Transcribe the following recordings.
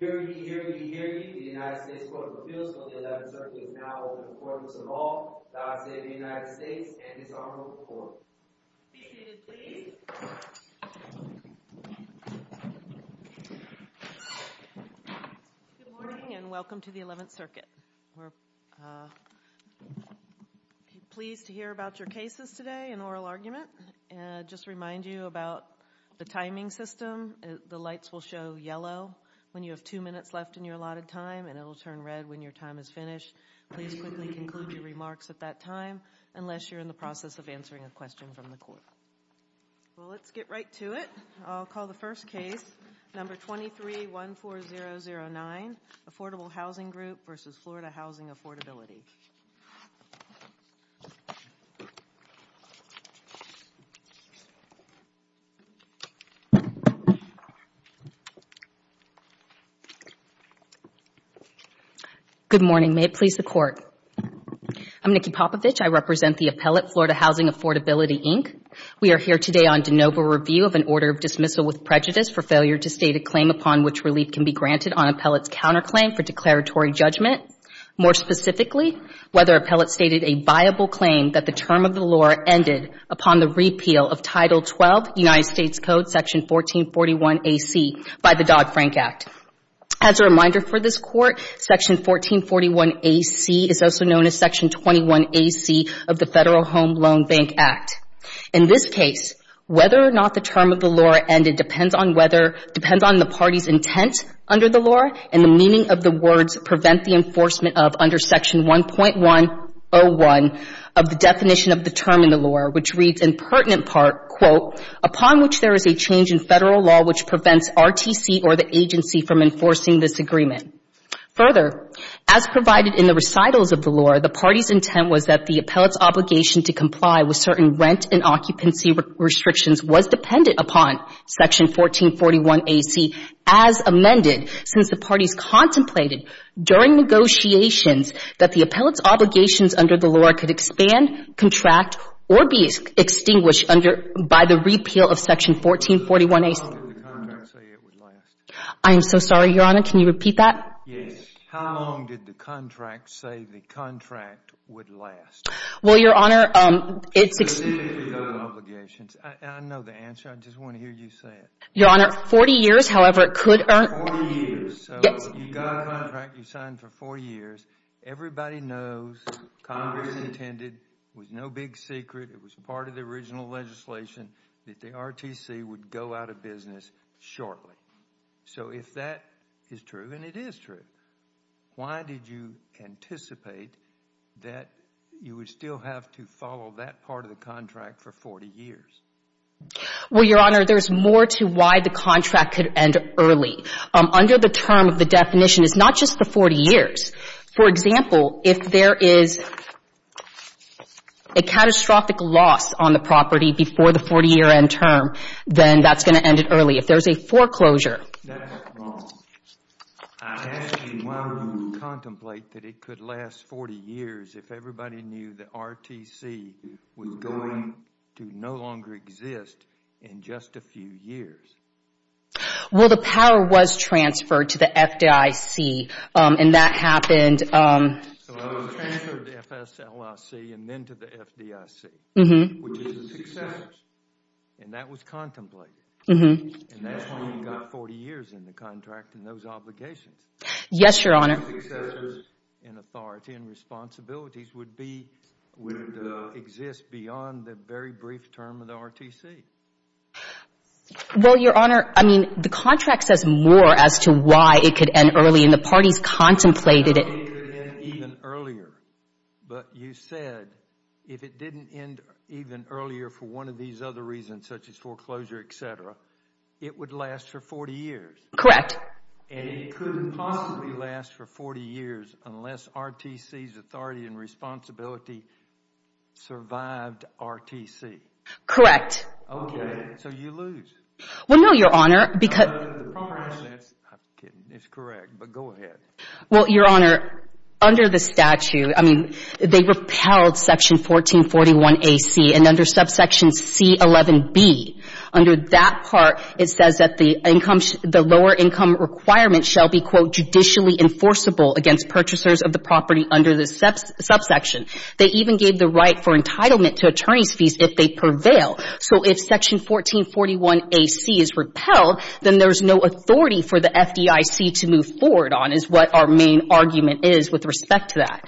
Here we be, here we be, here we be, the United States Court of Appeals on the 11th Circuit is now in the Court of Appeals. First of all, God save the United States and His Honorable Court. Be seated, please. Good morning and welcome to the 11th Circuit. We're pleased to hear about your cases today and oral argument. I'll just remind you about the timing system. The lights will show yellow when you have two minutes left in your allotted time, and it will turn red when your time is finished. Please quickly conclude your remarks at that time, unless you're in the process of answering a question from the court. Well, let's get right to it. I'll call the first case, number 2314009, Affordable Housing Group v. Florida Housing Affordability. Good morning. May it please the Court. I'm Nikki Popovich. I represent the appellate, Florida Housing Affordability, Inc. We are here today on de novo review of an order of dismissal with prejudice for failure to state a claim upon which relief can be granted on appellate's counterclaim for declaratory judgment. More specifically, whether appellate stated a viable claim that the term of the law ended upon the repeal of Title 12, United States Code, Section 1441AC, by the Dodd-Frank Act. As a reminder for this Court, Section 1441AC is also known as Section 21AC of the Federal Home Loan Bank Act. In this case, whether or not the term of the law ended depends on whether, depends on the party's intent under the law and the meaning of the words prevent the enforcement of under Section 1.101 of the definition of the term in the law, which reads in pertinent part, quote, upon which there is a change in Federal law which prevents RTC or the agency from enforcing this agreement. Further, as provided in the recitals of the law, the party's intent was that the appellate's obligation to comply with certain rent and occupancy restrictions was dependent upon Section 1441AC as amended since the parties contemplated during negotiations that the appellate's obligations under the law could expand, contract, or be extinguished under, by the repeal of Section 1441AC. How long did the contract say it would last? I am so sorry, Your Honor. Can you repeat that? Yes. How long did the contract say the contract would last? Well, Your Honor, it's extinguished. I know the answer. I just want to hear you say it. Your Honor, 40 years. 40 years. So you got a contract, you signed for 40 years. Everybody knows Congress intended, it was no big secret, it was part of the original legislation that the RTC would go out of business shortly. So if that is true, and it is true, why did you anticipate that you would still have to follow that part of the contract for 40 years? Well, Your Honor, there's more to why the contract could end early. Under the term of the definition, it's not just the 40 years. For example, if there is a catastrophic loss on the property before the 40-year end term, then that's going to end it early. If there's a foreclosure. That's wrong. I'm asking why would you contemplate that it could last 40 years if everybody knew the RTC was going to no longer exist in just a few years? Well, the power was transferred to the FDIC, and that happened. So it was transferred to FSLIC and then to the FDIC, which is the successors, and that was contemplated. And that's why you got 40 years in the contract and those obligations. Yes, Your Honor. Successors and authority and responsibilities would exist beyond the very brief term of the RTC. Well, Your Honor, I mean, the contract says more as to why it could end early, and the parties contemplated it. It could end even earlier. But you said if it didn't end even earlier for one of these other reasons, such as foreclosure, et cetera, it would last for 40 years. Correct. And it couldn't possibly last for 40 years unless RTC's authority and responsibility survived RTC. Correct. Okay. So you lose. Well, no, Your Honor. I'm kidding. It's correct, but go ahead. Well, Your Honor, under the statute, I mean, they repelled Section 1441AC, and under subsection C11B, under that part it says that the lower income requirement shall be, quote, judicially enforceable against purchasers of the property under the subsection. They even gave the right for entitlement to attorney's fees if they prevail. So if Section 1441AC is repelled, then there's no authority for the FDIC to move forward on, is what our main argument is with respect to that.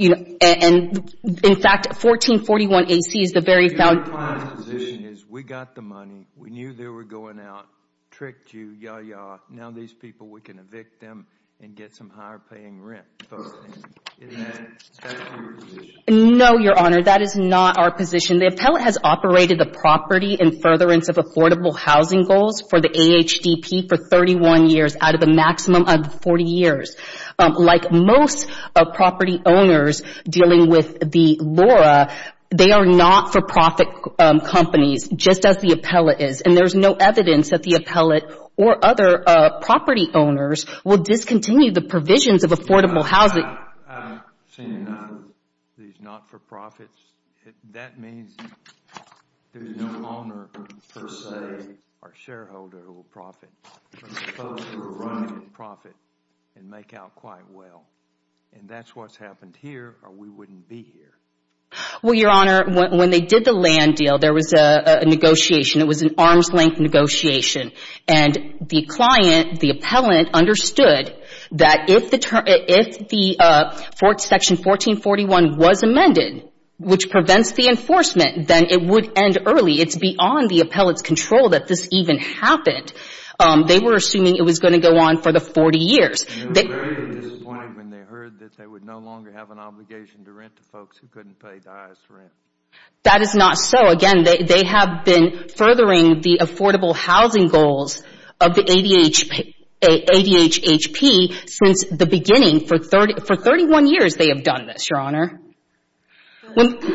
And, in fact, 1441AC is the very foundation. Your client's position is we got the money, we knew they were going out, tricked you, yaw, yaw, now these people, we can evict them and get some higher paying rent. Is that your position? No, Your Honor, that is not our position. The appellate has operated the property in furtherance of affordable housing goals for the AHDP for 31 years out of the maximum of 40 years. Like most property owners dealing with the LORA, they are not-for-profit companies, just as the appellate is. And there's no evidence that the appellate or other property owners will discontinue the provisions of affordable housing. I've seen these not-for-profits. That means there's no owner, per se, or shareholder who will profit. But the folks who are running the profit can make out quite well. And that's what's happened here, or we wouldn't be here. Well, Your Honor, when they did the land deal, there was a negotiation. It was an arm's-length negotiation. And the client, the appellant, understood that if the section 1441 was amended, which prevents the enforcement, then it would end early. It's beyond the appellate's control that this even happened. They were assuming it was going to go on for the 40 years. They were very disappointed when they heard that they would no longer have an obligation to rent to folks who couldn't pay the highest rent. That is not so. Again, they have been furthering the affordable housing goals of the ADHHP since the beginning. For 31 years, they have done this, Your Honor. Let me ask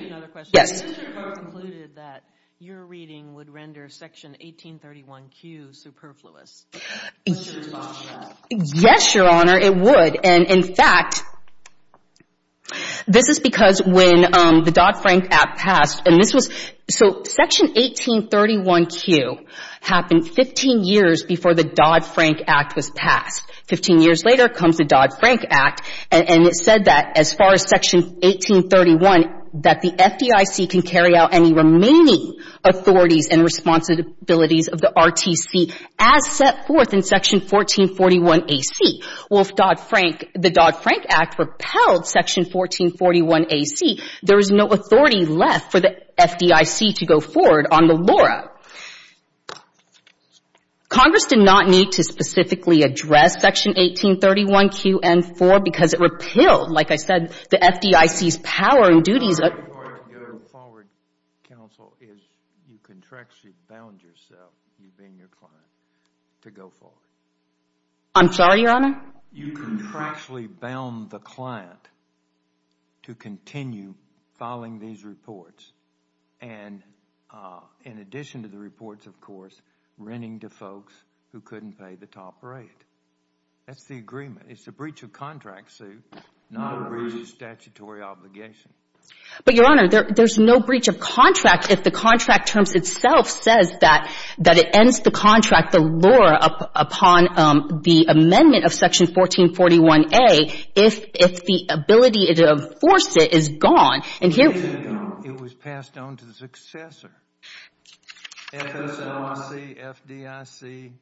you another question. Yes. Mr. Barr concluded that your reading would render Section 1831Q superfluous. Yes, Your Honor, it would. And, in fact, this is because when the Dodd-Frank Act passed, and this was – so Section 1831Q happened 15 years before the Dodd-Frank Act was passed. Fifteen years later comes the Dodd-Frank Act, and it said that as far as Section 1831, that the FDIC can carry out any remaining authorities and responsibilities of the RTC as set forth in Section 1441A.C. Well, if Dodd-Frank – the Dodd-Frank Act repelled Section 1441A.C., there is no authority left for the FDIC to go forward on the LORA. Congress did not need to specifically address Section 1831Q.N.4 because it repelled, like I said, the FDIC's power and duties. The right part of going forward, counsel, is you contractually bound yourself, you being your client, to go forward. I'm sorry, Your Honor? You contractually bound the client to continue filing these reports. And in addition to the reports, of course, renting to folks who couldn't pay the top rate. That's the agreement. It's a breach of contract, Sue, not a breach of statutory obligation. But, Your Honor, there's no breach of contract if the contract terms itself says that it ends the contract, the LORA, upon the amendment of Section 1441A if the ability to enforce it is gone. And here we are. It was passed on to the successor. FSOIC, FDIC,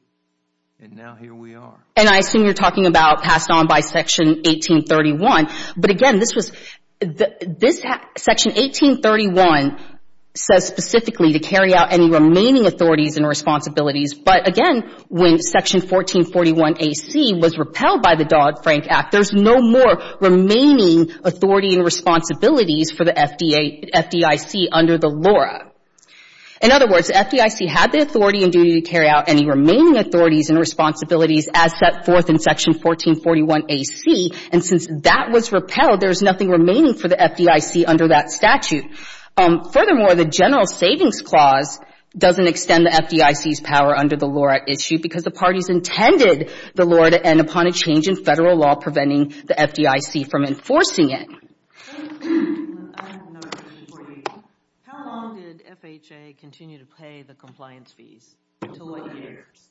and now here we are. And I assume you're talking about passed on by Section 1831. But, again, this was – this – Section 1831 says specifically to carry out any remaining authorities and responsibilities. But, again, when Section 1441A.C. was repelled by the Dodd-Frank Act, there's no more remaining authority and responsibilities for the FDIC under the LORA. In other words, FDIC had the authority and duty to carry out any remaining authorities and responsibilities as set forth in Section 1441A.C. And since that was repelled, there's nothing remaining for the FDIC under that statute. Furthermore, the General Savings Clause doesn't extend the FDIC's power under the LORA issue because the parties intended the LORA to end upon a change in federal law preventing the FDIC from enforcing it. How long did FHA continue to pay the compliance fees? To what years?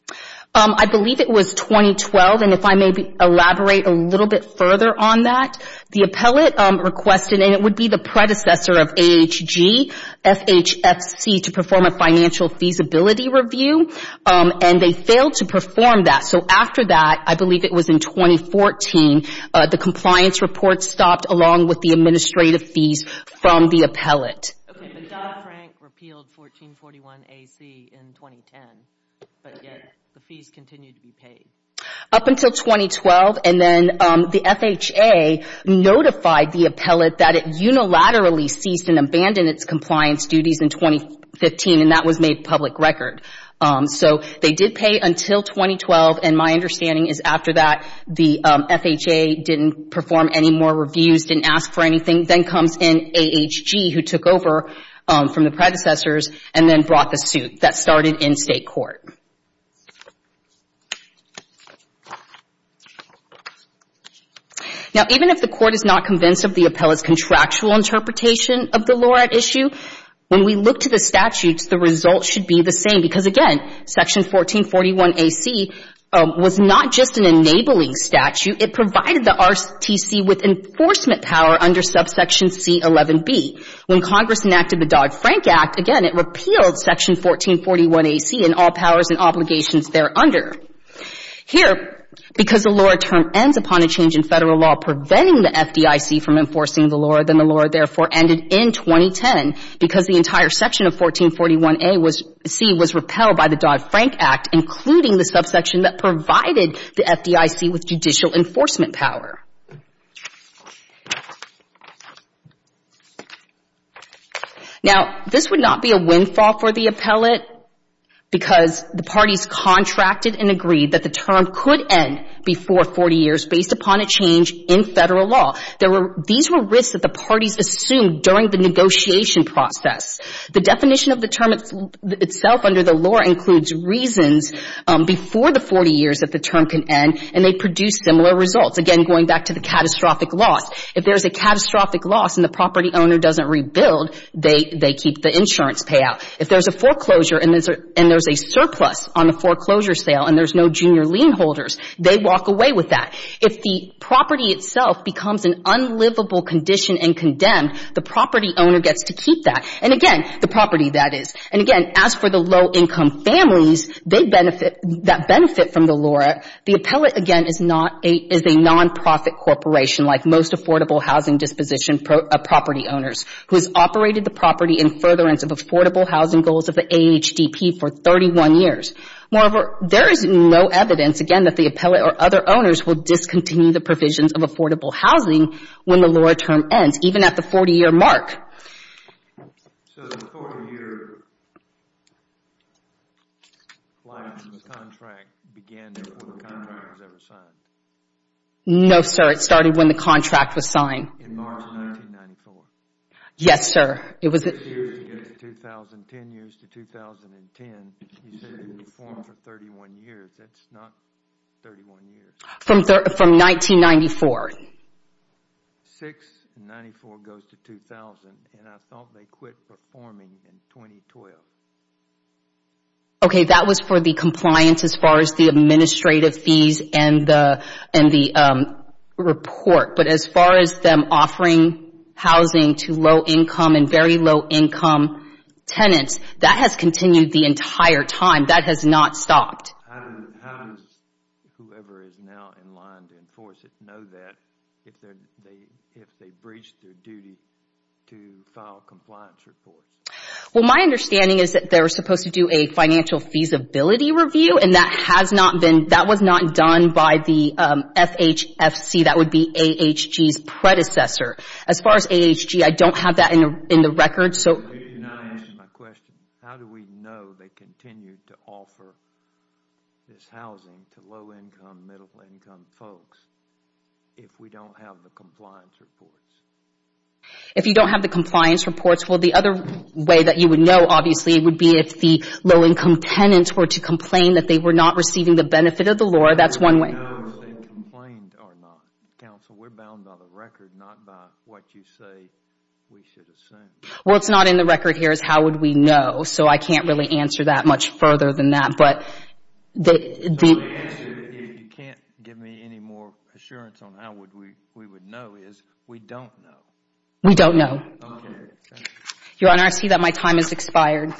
I believe it was 2012. And if I may elaborate a little bit further on that, the appellate requested – and it would be the predecessor of AHG – FHFC to perform a financial feasibility review. And they failed to perform that. So after that, I believe it was in 2014, the compliance report stopped along with the administrative fees from the appellate. Okay, but Dodd-Frank repealed 1441A.C. in 2010. But yet the fees continue to be paid. Up until 2012. And then the FHA notified the appellate that it unilaterally ceased and abandoned its compliance duties in 2015. And that was made public record. So they did pay until 2012. And my understanding is after that, the FHA didn't perform any more reviews, didn't ask for anything. Then comes in AHG, who took over from the predecessors and then brought the suit. That started in state court. Now, even if the court is not convinced of the appellate's contractual interpretation of the LORA issue, when we look to the statutes, the results should be the same. Because, again, Section 1441A.C. was not just an enabling statute. It provided the RTC with enforcement power under subsection C11B. When Congress enacted the Dodd-Frank Act, again, it repealed Section 1441A.C. and all powers and obligations thereunder. Here, because the LORA term ends upon a change in federal law preventing the FDIC from enforcing the LORA, then the LORA therefore ended in 2010 because the entire section of 1441A.C. was repealed by the Dodd-Frank Act, including the subsection that provided the FDIC with judicial enforcement power. Now, this would not be a windfall for the appellate because the parties contracted and agreed that the term could end before 40 years based upon a change in federal law. These were risks that the parties assumed during the negotiation process. The definition of the term itself under the LORA includes reasons before the 40 years that the term can end, and they produce similar results, again, going back to the catastrophic loss. If there's a catastrophic loss and the property owner doesn't rebuild, they keep the insurance payout. If there's a foreclosure and there's a surplus on the foreclosure sale and there's no junior lien holders, they walk away with that. If the property itself becomes an unlivable condition and condemned, the property owner gets to keep that. And, again, the property that is. And, again, as for the low-income families that benefit from the LORA, the appellate, again, is a nonprofit corporation like most affordable housing disposition property owners who has operated the property in furtherance of affordable housing goals of the AHDP for 31 years. Moreover, there is no evidence, again, that the appellate or other owners will discontinue the provisions of affordable housing when the LORA term ends, even at the 40-year mark. So the 40-year contract began before the contract was ever signed? No, sir. It started when the contract was signed. In March 1994? Yes, sir. 2010 years to 2010. You said it reformed for 31 years. That's not 31 years. From 1994. 694 goes to 2000, and I thought they quit performing in 2012. Okay, that was for the compliance as far as the administrative fees and the report. But as far as them offering housing to low-income and very low-income tenants, that has continued the entire time. That has not stopped. How does whoever is now in line to enforce it know that if they breach their duty to file compliance reports? Well, my understanding is that they were supposed to do a financial feasibility review, and that was not done by the FHFC. That would be AHG's predecessor. As far as AHG, I don't have that in the record. You're not answering my question. How do we know they continue to offer this housing to low-income, middle-income folks if we don't have the compliance reports? If you don't have the compliance reports, well, the other way that you would know, obviously, would be if the low-income tenants were to complain that they were not receiving the benefit of the law. That's one way. We don't know if they complained or not. Counsel, we're bound by the record, not by what you say we should assume. Well, what's not in the record here is how would we know, so I can't really answer that much further than that. The answer, if you can't give me any more assurance on how we would know, is we don't know. We don't know. Okay, thank you. Your Honor, I see that my time has expired.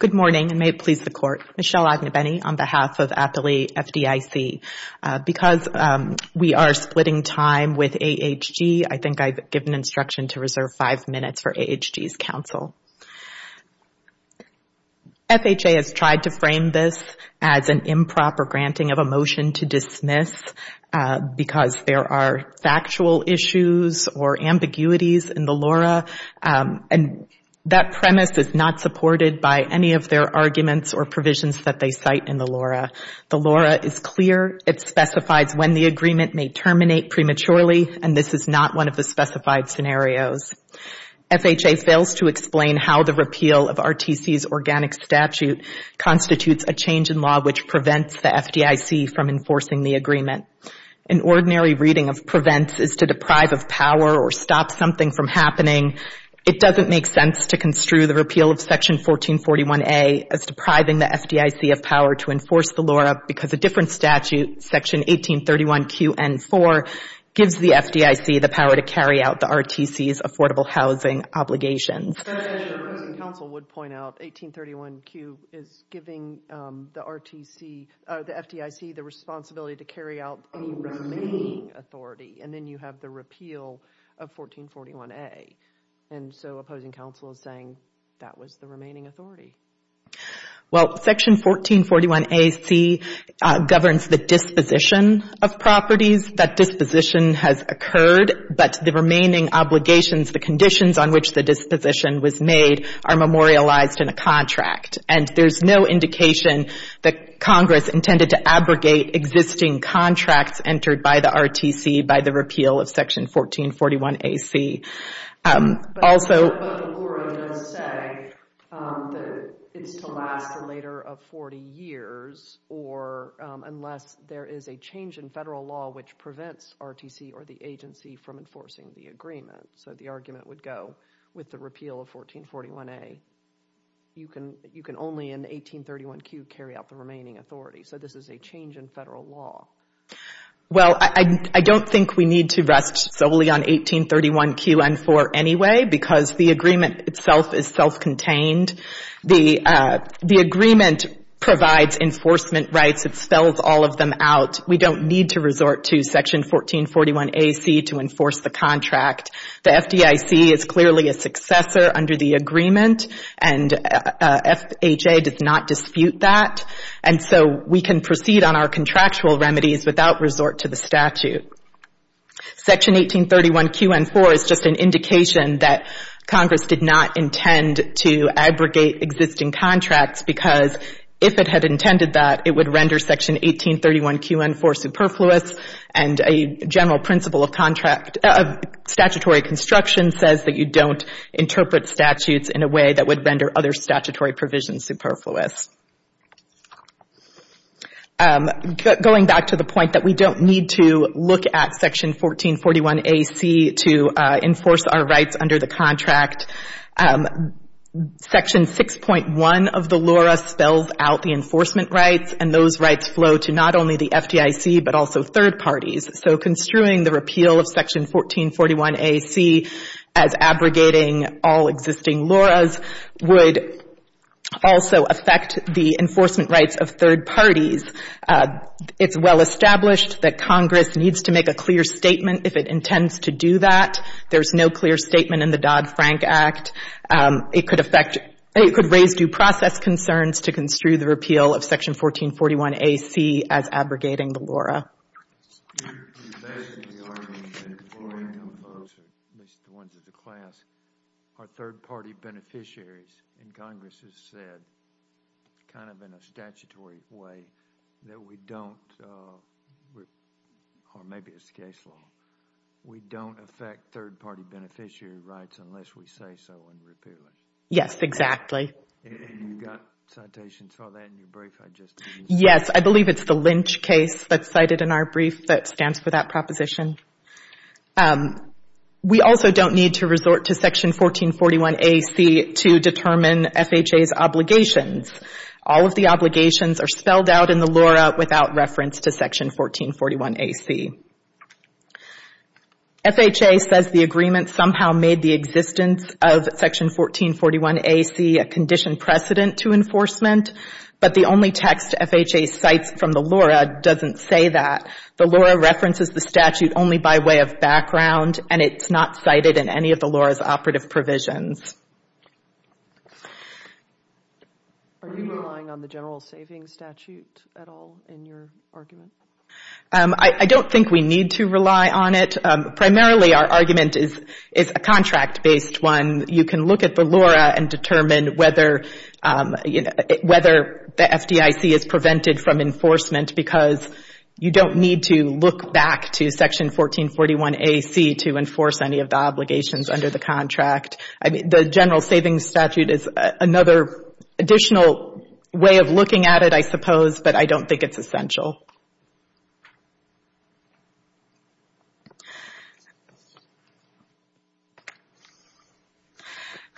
Good morning, and may it please the Court. I'm Michelle Agnew-Benny on behalf of Appellee FDIC. Because we are splitting time with AHG, I think I've given instruction to reserve five minutes for AHG's counsel. FHA has tried to frame this as an improper granting of a motion to dismiss because there are factual issues or ambiguities in the LORA, and that premise is not supported by any of their arguments or provisions that they cite in the LORA. The LORA is clear. It specifies when the agreement may terminate prematurely, and this is not one of the specified scenarios. FHA fails to explain how the repeal of RTC's organic statute constitutes a change in law which prevents the FDIC from enforcing the agreement. An ordinary reading of prevents is to deprive of power or stop something from happening. It doesn't make sense to construe the repeal of Section 1441A as depriving the FDIC of power to enforce the LORA because a different statute, Section 1831QN4, gives the FDIC the power to carry out the RTC's affordable housing obligations. As your opposing counsel would point out, 1831Q is giving the FDIC the responsibility to carry out any remaining authority, and then you have the repeal of 1441A, and so opposing counsel is saying that was the remaining authority. Well, Section 1441AC governs the disposition of properties. It means that disposition has occurred, but the remaining obligations, the conditions on which the disposition was made are memorialized in a contract, and there's no indication that Congress intended to abrogate existing contracts entered by the RTC by the repeal of Section 1441AC. But the LORA does say that it's to last a later of 40 years or unless there is a change in federal law which prevents RTC or the agency from enforcing the agreement, so the argument would go with the repeal of 1441A, you can only in 1831Q carry out the remaining authority, so this is a change in federal law. Well, I don't think we need to rest solely on 1831QN4 anyway because the agreement itself is self-contained. The agreement provides enforcement rights. It spells all of them out. We don't need to resort to Section 1441AC to enforce the contract. The FDIC is clearly a successor under the agreement, and FHA does not dispute that, and so we can proceed on our contractual remedies without resort to the statute. Section 1831QN4 is just an indication that Congress did not intend to abrogate existing contracts because if it had intended that, it would render Section 1831QN4 superfluous, and a general principle of statutory construction says that you don't interpret statutes in a way that would render other statutory provisions superfluous. Going back to the point that we don't need to look at Section 1441AC to enforce our rights under the contract, Section 6.1 of the LORA spells out the enforcement rights, and those rights flow to not only the FDIC but also third parties, so construing the repeal of Section 1441AC as abrogating all existing LORAs would also affect the enforcement rights of third parties. It's well established that Congress needs to make a clear statement if it intends to do that. There's no clear statement in the Dodd-Frank Act. It could raise due process concerns to construe the repeal of Section 1441AC as abrogating the LORA. You're suggesting the argument that the LORA income folks, at least the ones in the class, are third-party beneficiaries, and Congress has said kind of in a statutory way that we don't, or maybe it's the case law, we don't affect third-party beneficiary rights unless we say so and repeal it. Yes, exactly. You've got citations for that in your brief. Yes, I believe it's the Lynch case that's cited in our brief that stands for that proposition. We also don't need to resort to Section 1441AC to determine FHA's obligations. All of the obligations are spelled out in the LORA without reference to Section 1441AC. FHA says the agreement somehow made the existence of Section 1441AC a conditioned precedent to enforcement, but the only text FHA cites from the LORA doesn't say that. The LORA references the statute only by way of background, and it's not cited in any of the LORA's operative provisions. Are you relying on the general savings statute at all in your argument? I don't think we need to rely on it. Primarily our argument is a contract-based one. You can look at the LORA and determine whether the FDIC is prevented from enforcement because you don't need to look back to Section 1441AC to enforce any of the obligations under the contract. The general savings statute is another additional way of looking at it, I suppose, but I don't think it's essential.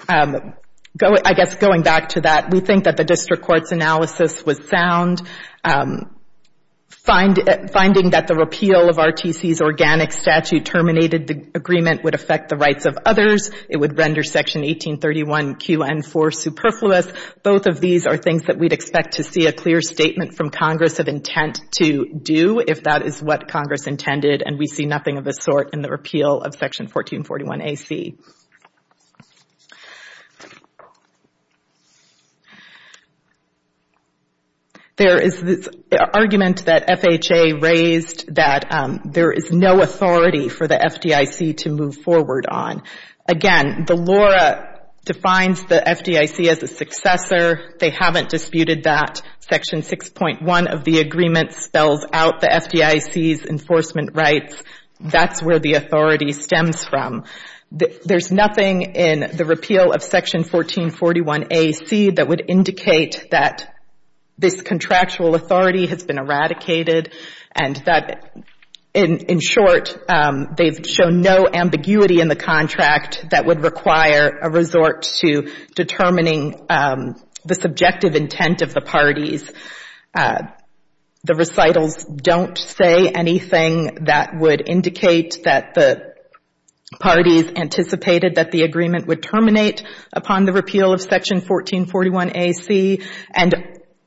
I guess going back to that, we think that the district court's analysis was sound. Finding that the repeal of RTC's organic statute terminated the agreement would affect the rights of others. It would render Section 1831QN4 superfluous. Both of these are things that we'd expect to see a clear statement from Congress of intent to do if that is what Congress intended, and we see nothing of the sort in the repeal of Section 1441AC. There is this argument that FHA raised that there is no authority for the FDIC to move forward on. Again, the LORA defines the FDIC as a successor. They haven't disputed that. Section 6.1 of the agreement spells out the FDIC's enforcement rights. That's where the authority stems from. There's nothing in the repeal of Section 1441AC that would indicate that this contractual authority has been eradicated and that, in short, they've shown no ambiguity in the contract that would require a resort to determining the subjective intent of the parties. The recitals don't say anything that would indicate that the parties anticipated that the agreement would terminate upon the repeal of Section 1441AC, and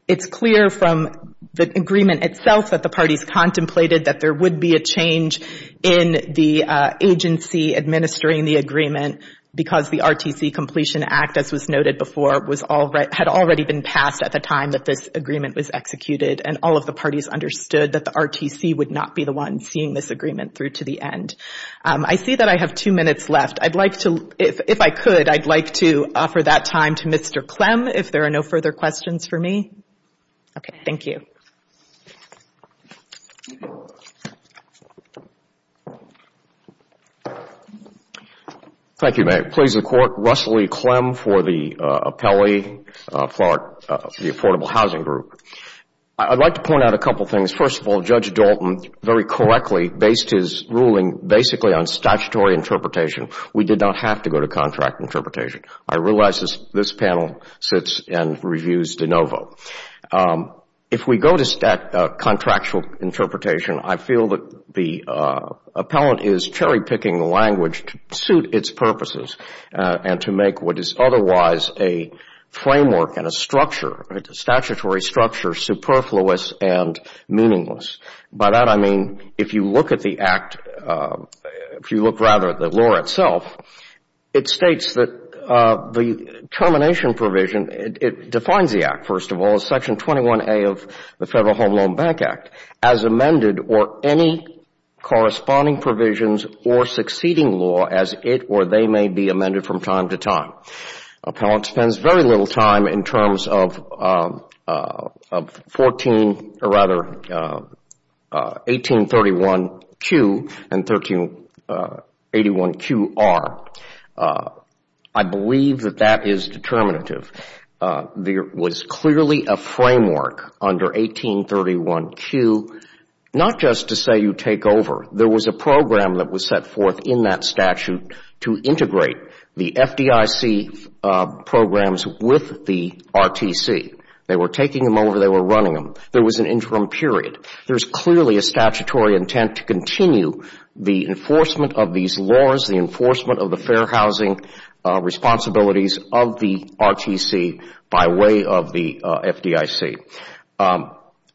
it's clear from the agreement itself that the parties contemplated that there would be a change in the agency administering the agreement because the RTC Completion Act, as was noted before, had already been passed at the time that this agreement was executed, and all of the parties understood that the RTC would not be the one seeing this agreement through to the end. I see that I have two minutes left. If I could, I'd like to offer that time to Mr. Clem if there are no further questions for me. Okay, thank you. Thank you, May. Please, the Court. Russell E. Clem for the appellee for the Affordable Housing Group. I'd like to point out a couple of things. First of all, Judge Dalton very correctly based his ruling basically on statutory interpretation, we did not have to go to contract interpretation. I realize this panel sits and reviews de novo. If we go to contractual interpretation, I feel that the appellant is cherry-picking language to suit its purposes and to make what is otherwise a framework and a structure, a statutory structure, superfluous and meaningless. By that, I mean if you look at the act, if you look rather at the law itself, it states that the termination provision, it defines the act, first of all, as Section 21A of the Federal Home Loan Bank Act, as amended or any corresponding provisions or succeeding law as it or they may be amended from time to time. Appellant spends very little time in terms of 1831Q and 1881QR. I believe that that is determinative. There was clearly a framework under 1831Q, not just to say you take over. There was a program that was set forth in that statute to integrate the FDIC programs with the RTC. They were taking them over. They were running them. There was an interim period. There is clearly a statutory intent to continue the enforcement of these laws, the enforcement of the fair housing responsibilities of the RTC by way of the FDIC.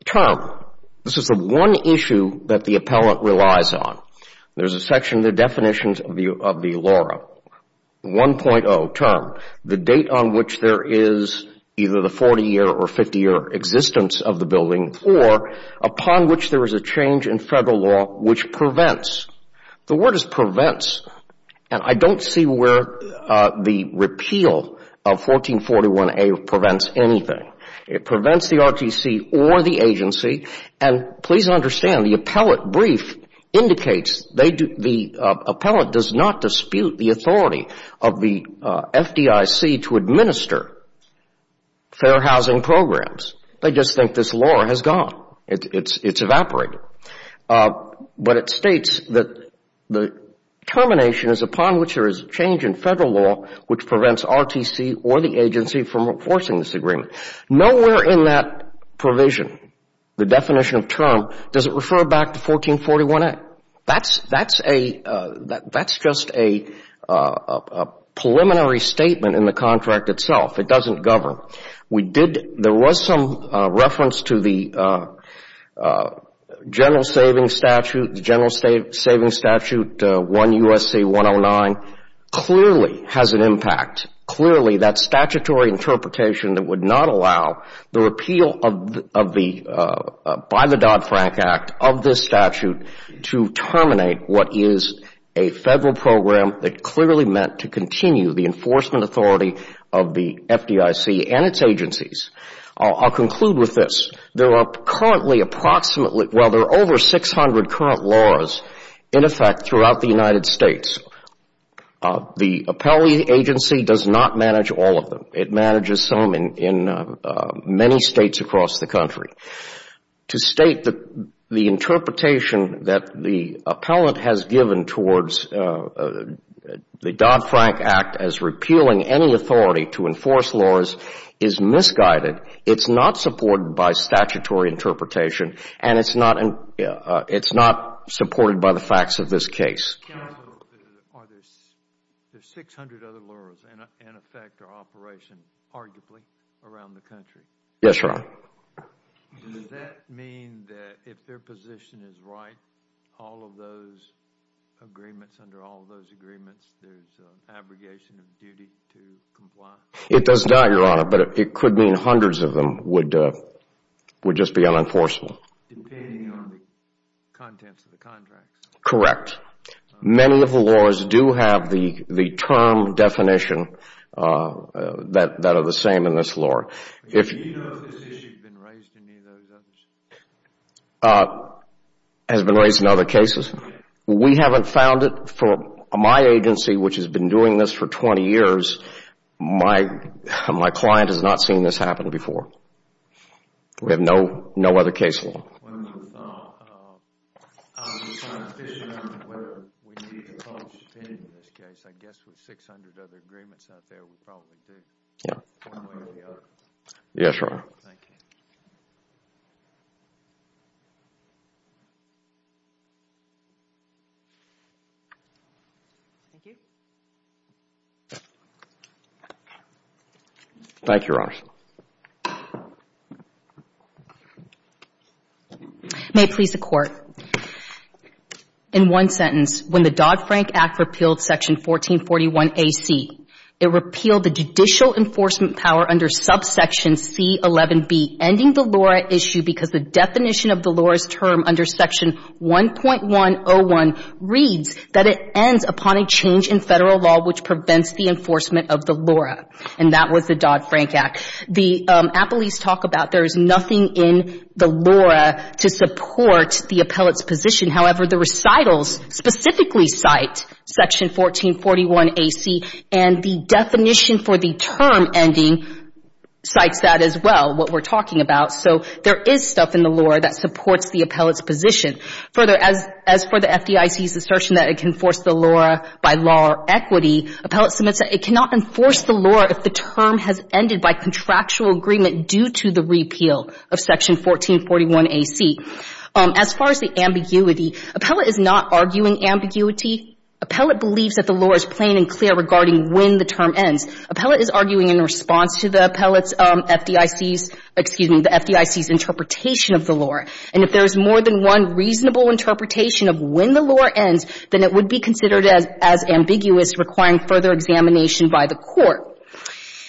Term. This is the one issue that the appellant relies on. There is a section, the definitions of the LORA. 1.0, term. The date on which there is either the 40-year or 50-year existence of the building or upon which there is a change in Federal law which prevents. The word is prevents, and I don't see where the repeal of 1441A prevents anything. It prevents the RTC or the agency, and please understand, the appellant brief indicates the appellant does not dispute the authority of the FDIC to administer fair housing programs. They just think this LORA has gone. It's evaporated. But it states that the termination is upon which there is a change in Federal law which prevents RTC or the agency from enforcing this agreement. Nowhere in that provision, the definition of term, does it refer back to 1441A. That's just a preliminary statement in the contract itself. It doesn't govern. There was some reference to the general savings statute. The general savings statute, 1 U.S.C. 109, clearly has an impact, clearly that statutory interpretation that would not allow the repeal by the Dodd-Frank Act of this statute to terminate what is a Federal program that clearly meant to continue the enforcement authority of the FDIC and its agencies. I'll conclude with this. There are currently approximately, well, there are over 600 current laws in effect throughout the United States. The appellee agency does not manage all of them. It manages some in many states across the country. To state the interpretation that the appellant has given towards the Dodd-Frank Act as repealing any authority to enforce laws is misguided. It's not supported by statutory interpretation and it's not supported by the facts of this case. Counsel, are there 600 other laws in effect or operation, arguably, around the country? Yes, Your Honor. Does that mean that if their position is right, all of those agreements, under all of those agreements, there's an abrogation of duty to comply? It does not, Your Honor, but it could mean hundreds of them would just be unenforceable. Depending on the contents of the contracts? Correct. Many of the laws do have the term definition that are the same in this law. Do you know if this issue has been raised in any of those other cases? It has been raised in other cases. We haven't found it for my agency, which has been doing this for 20 years. My client has not seen this happen before. We have no other case law. I was just trying to figure out whether we need to publish opinion in this case. I guess with 600 other agreements out there, we probably do. One way or the other. Yes, Your Honor. Thank you. Thank you. Thank you, Your Honor. May it please the Court. In one sentence, when the Dodd-Frank Act repealed Section 1441AC, it repealed the judicial enforcement power under subsection C11B, ending the LORA issue because the definition of the LORA's term under Section 1.101 reads that it ends upon a change in Federal law which prevents the enforcement of the LORA. And that was the Dodd-Frank Act. The appellees talk about there is nothing in the LORA to support the appellate's position. However, the recitals specifically cite Section 1441AC, and the definition for the term ending cites that as well, what we're talking about. So there is stuff in the LORA that supports the appellate's position. Further, as for the FDIC's assertion that it can force the LORA by law or equity, appellate submits that it cannot enforce the LORA if the term has ended by contractual agreement due to the repeal of Section 1441AC. As far as the ambiguity, appellate is not arguing ambiguity. Appellate believes that the LORA is plain and clear regarding when the term ends. Appellate is arguing in response to the appellate's FDIC's, excuse me, the FDIC's interpretation of the LORA. And if there is more than one reasonable interpretation of when the LORA ends, then it would be considered as ambiguous requiring further examination by the court.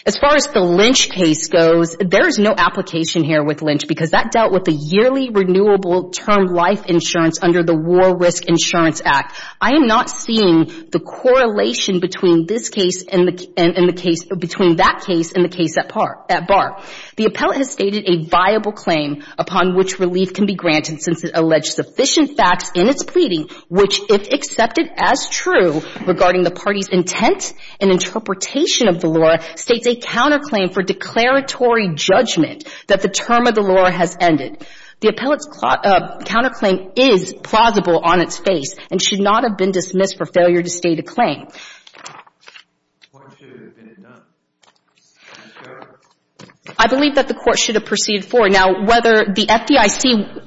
As far as the Lynch case goes, there is no application here with Lynch because that dealt with the yearly renewable term life insurance under the War Risk Insurance Act. I am not seeing the correlation between this case and the case, between that case and the case at bar. The appellate has stated a viable claim upon which relief can be granted since it alleged sufficient facts in its pleading which, if accepted as true regarding the party's intent and interpretation of the LORA, states a counterclaim for declaratory judgment that the term of the LORA has ended. The appellate's counterclaim is plausible on its face and should not have been dismissed for failure to state a claim. I believe that the court should have proceeded forward. Now, whether the FDIC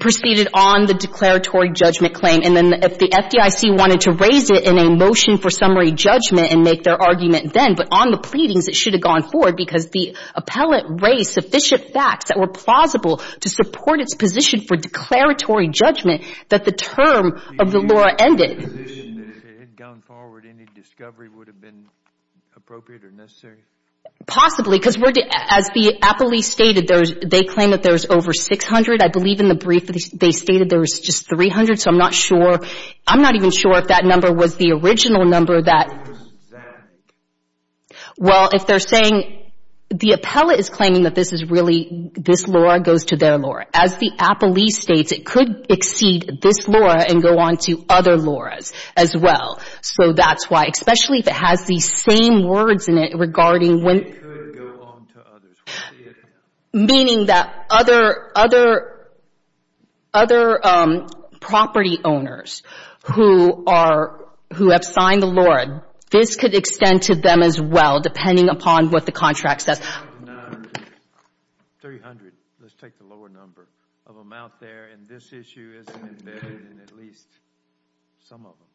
proceeded on the declaratory judgment claim and then if the FDIC wanted to raise it in a motion for summary judgment and make their argument then, but on the pleadings, it should have gone forward because the appellate raised sufficient facts that were plausible to support its position for declaratory judgment that the term of the LORA ended. If it had gone forward, any discovery would have been appropriate or necessary? Possibly, because as the appellee stated, they claim that there was over 600. I believe in the brief they stated there was just 300, so I'm not sure. I'm not even sure if that number was the original number that. Well, if they're saying, the appellate is claiming that this is really, this LORA goes to their LORA. As the appellee states, it could exceed this LORA and go on to other LORAs as well. So that's why, especially if it has these same words in it regarding when. It could go on to others. Meaning that other, other, other property owners who are, who have signed the LORA, this could extend to them as well depending upon what the contract says. 300, let's take the lower number of them out there and this issue isn't embedded in at least some of them.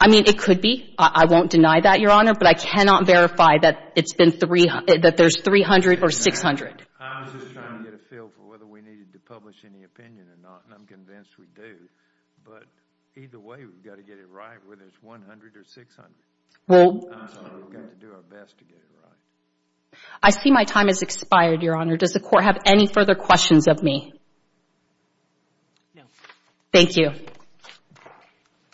I mean, it could be. I won't deny that, Your Honor, but I cannot verify that it's been 300, that there's 300 or 600. I was just trying to get a feel for whether we needed to publish any opinion or not, and I'm convinced we do. But either way, we've got to get it right whether it's 100 or 600. Well. We've got to do our best to get it right. I see my time has expired, Your Honor. Does the court have any further questions of me? No. Thank you.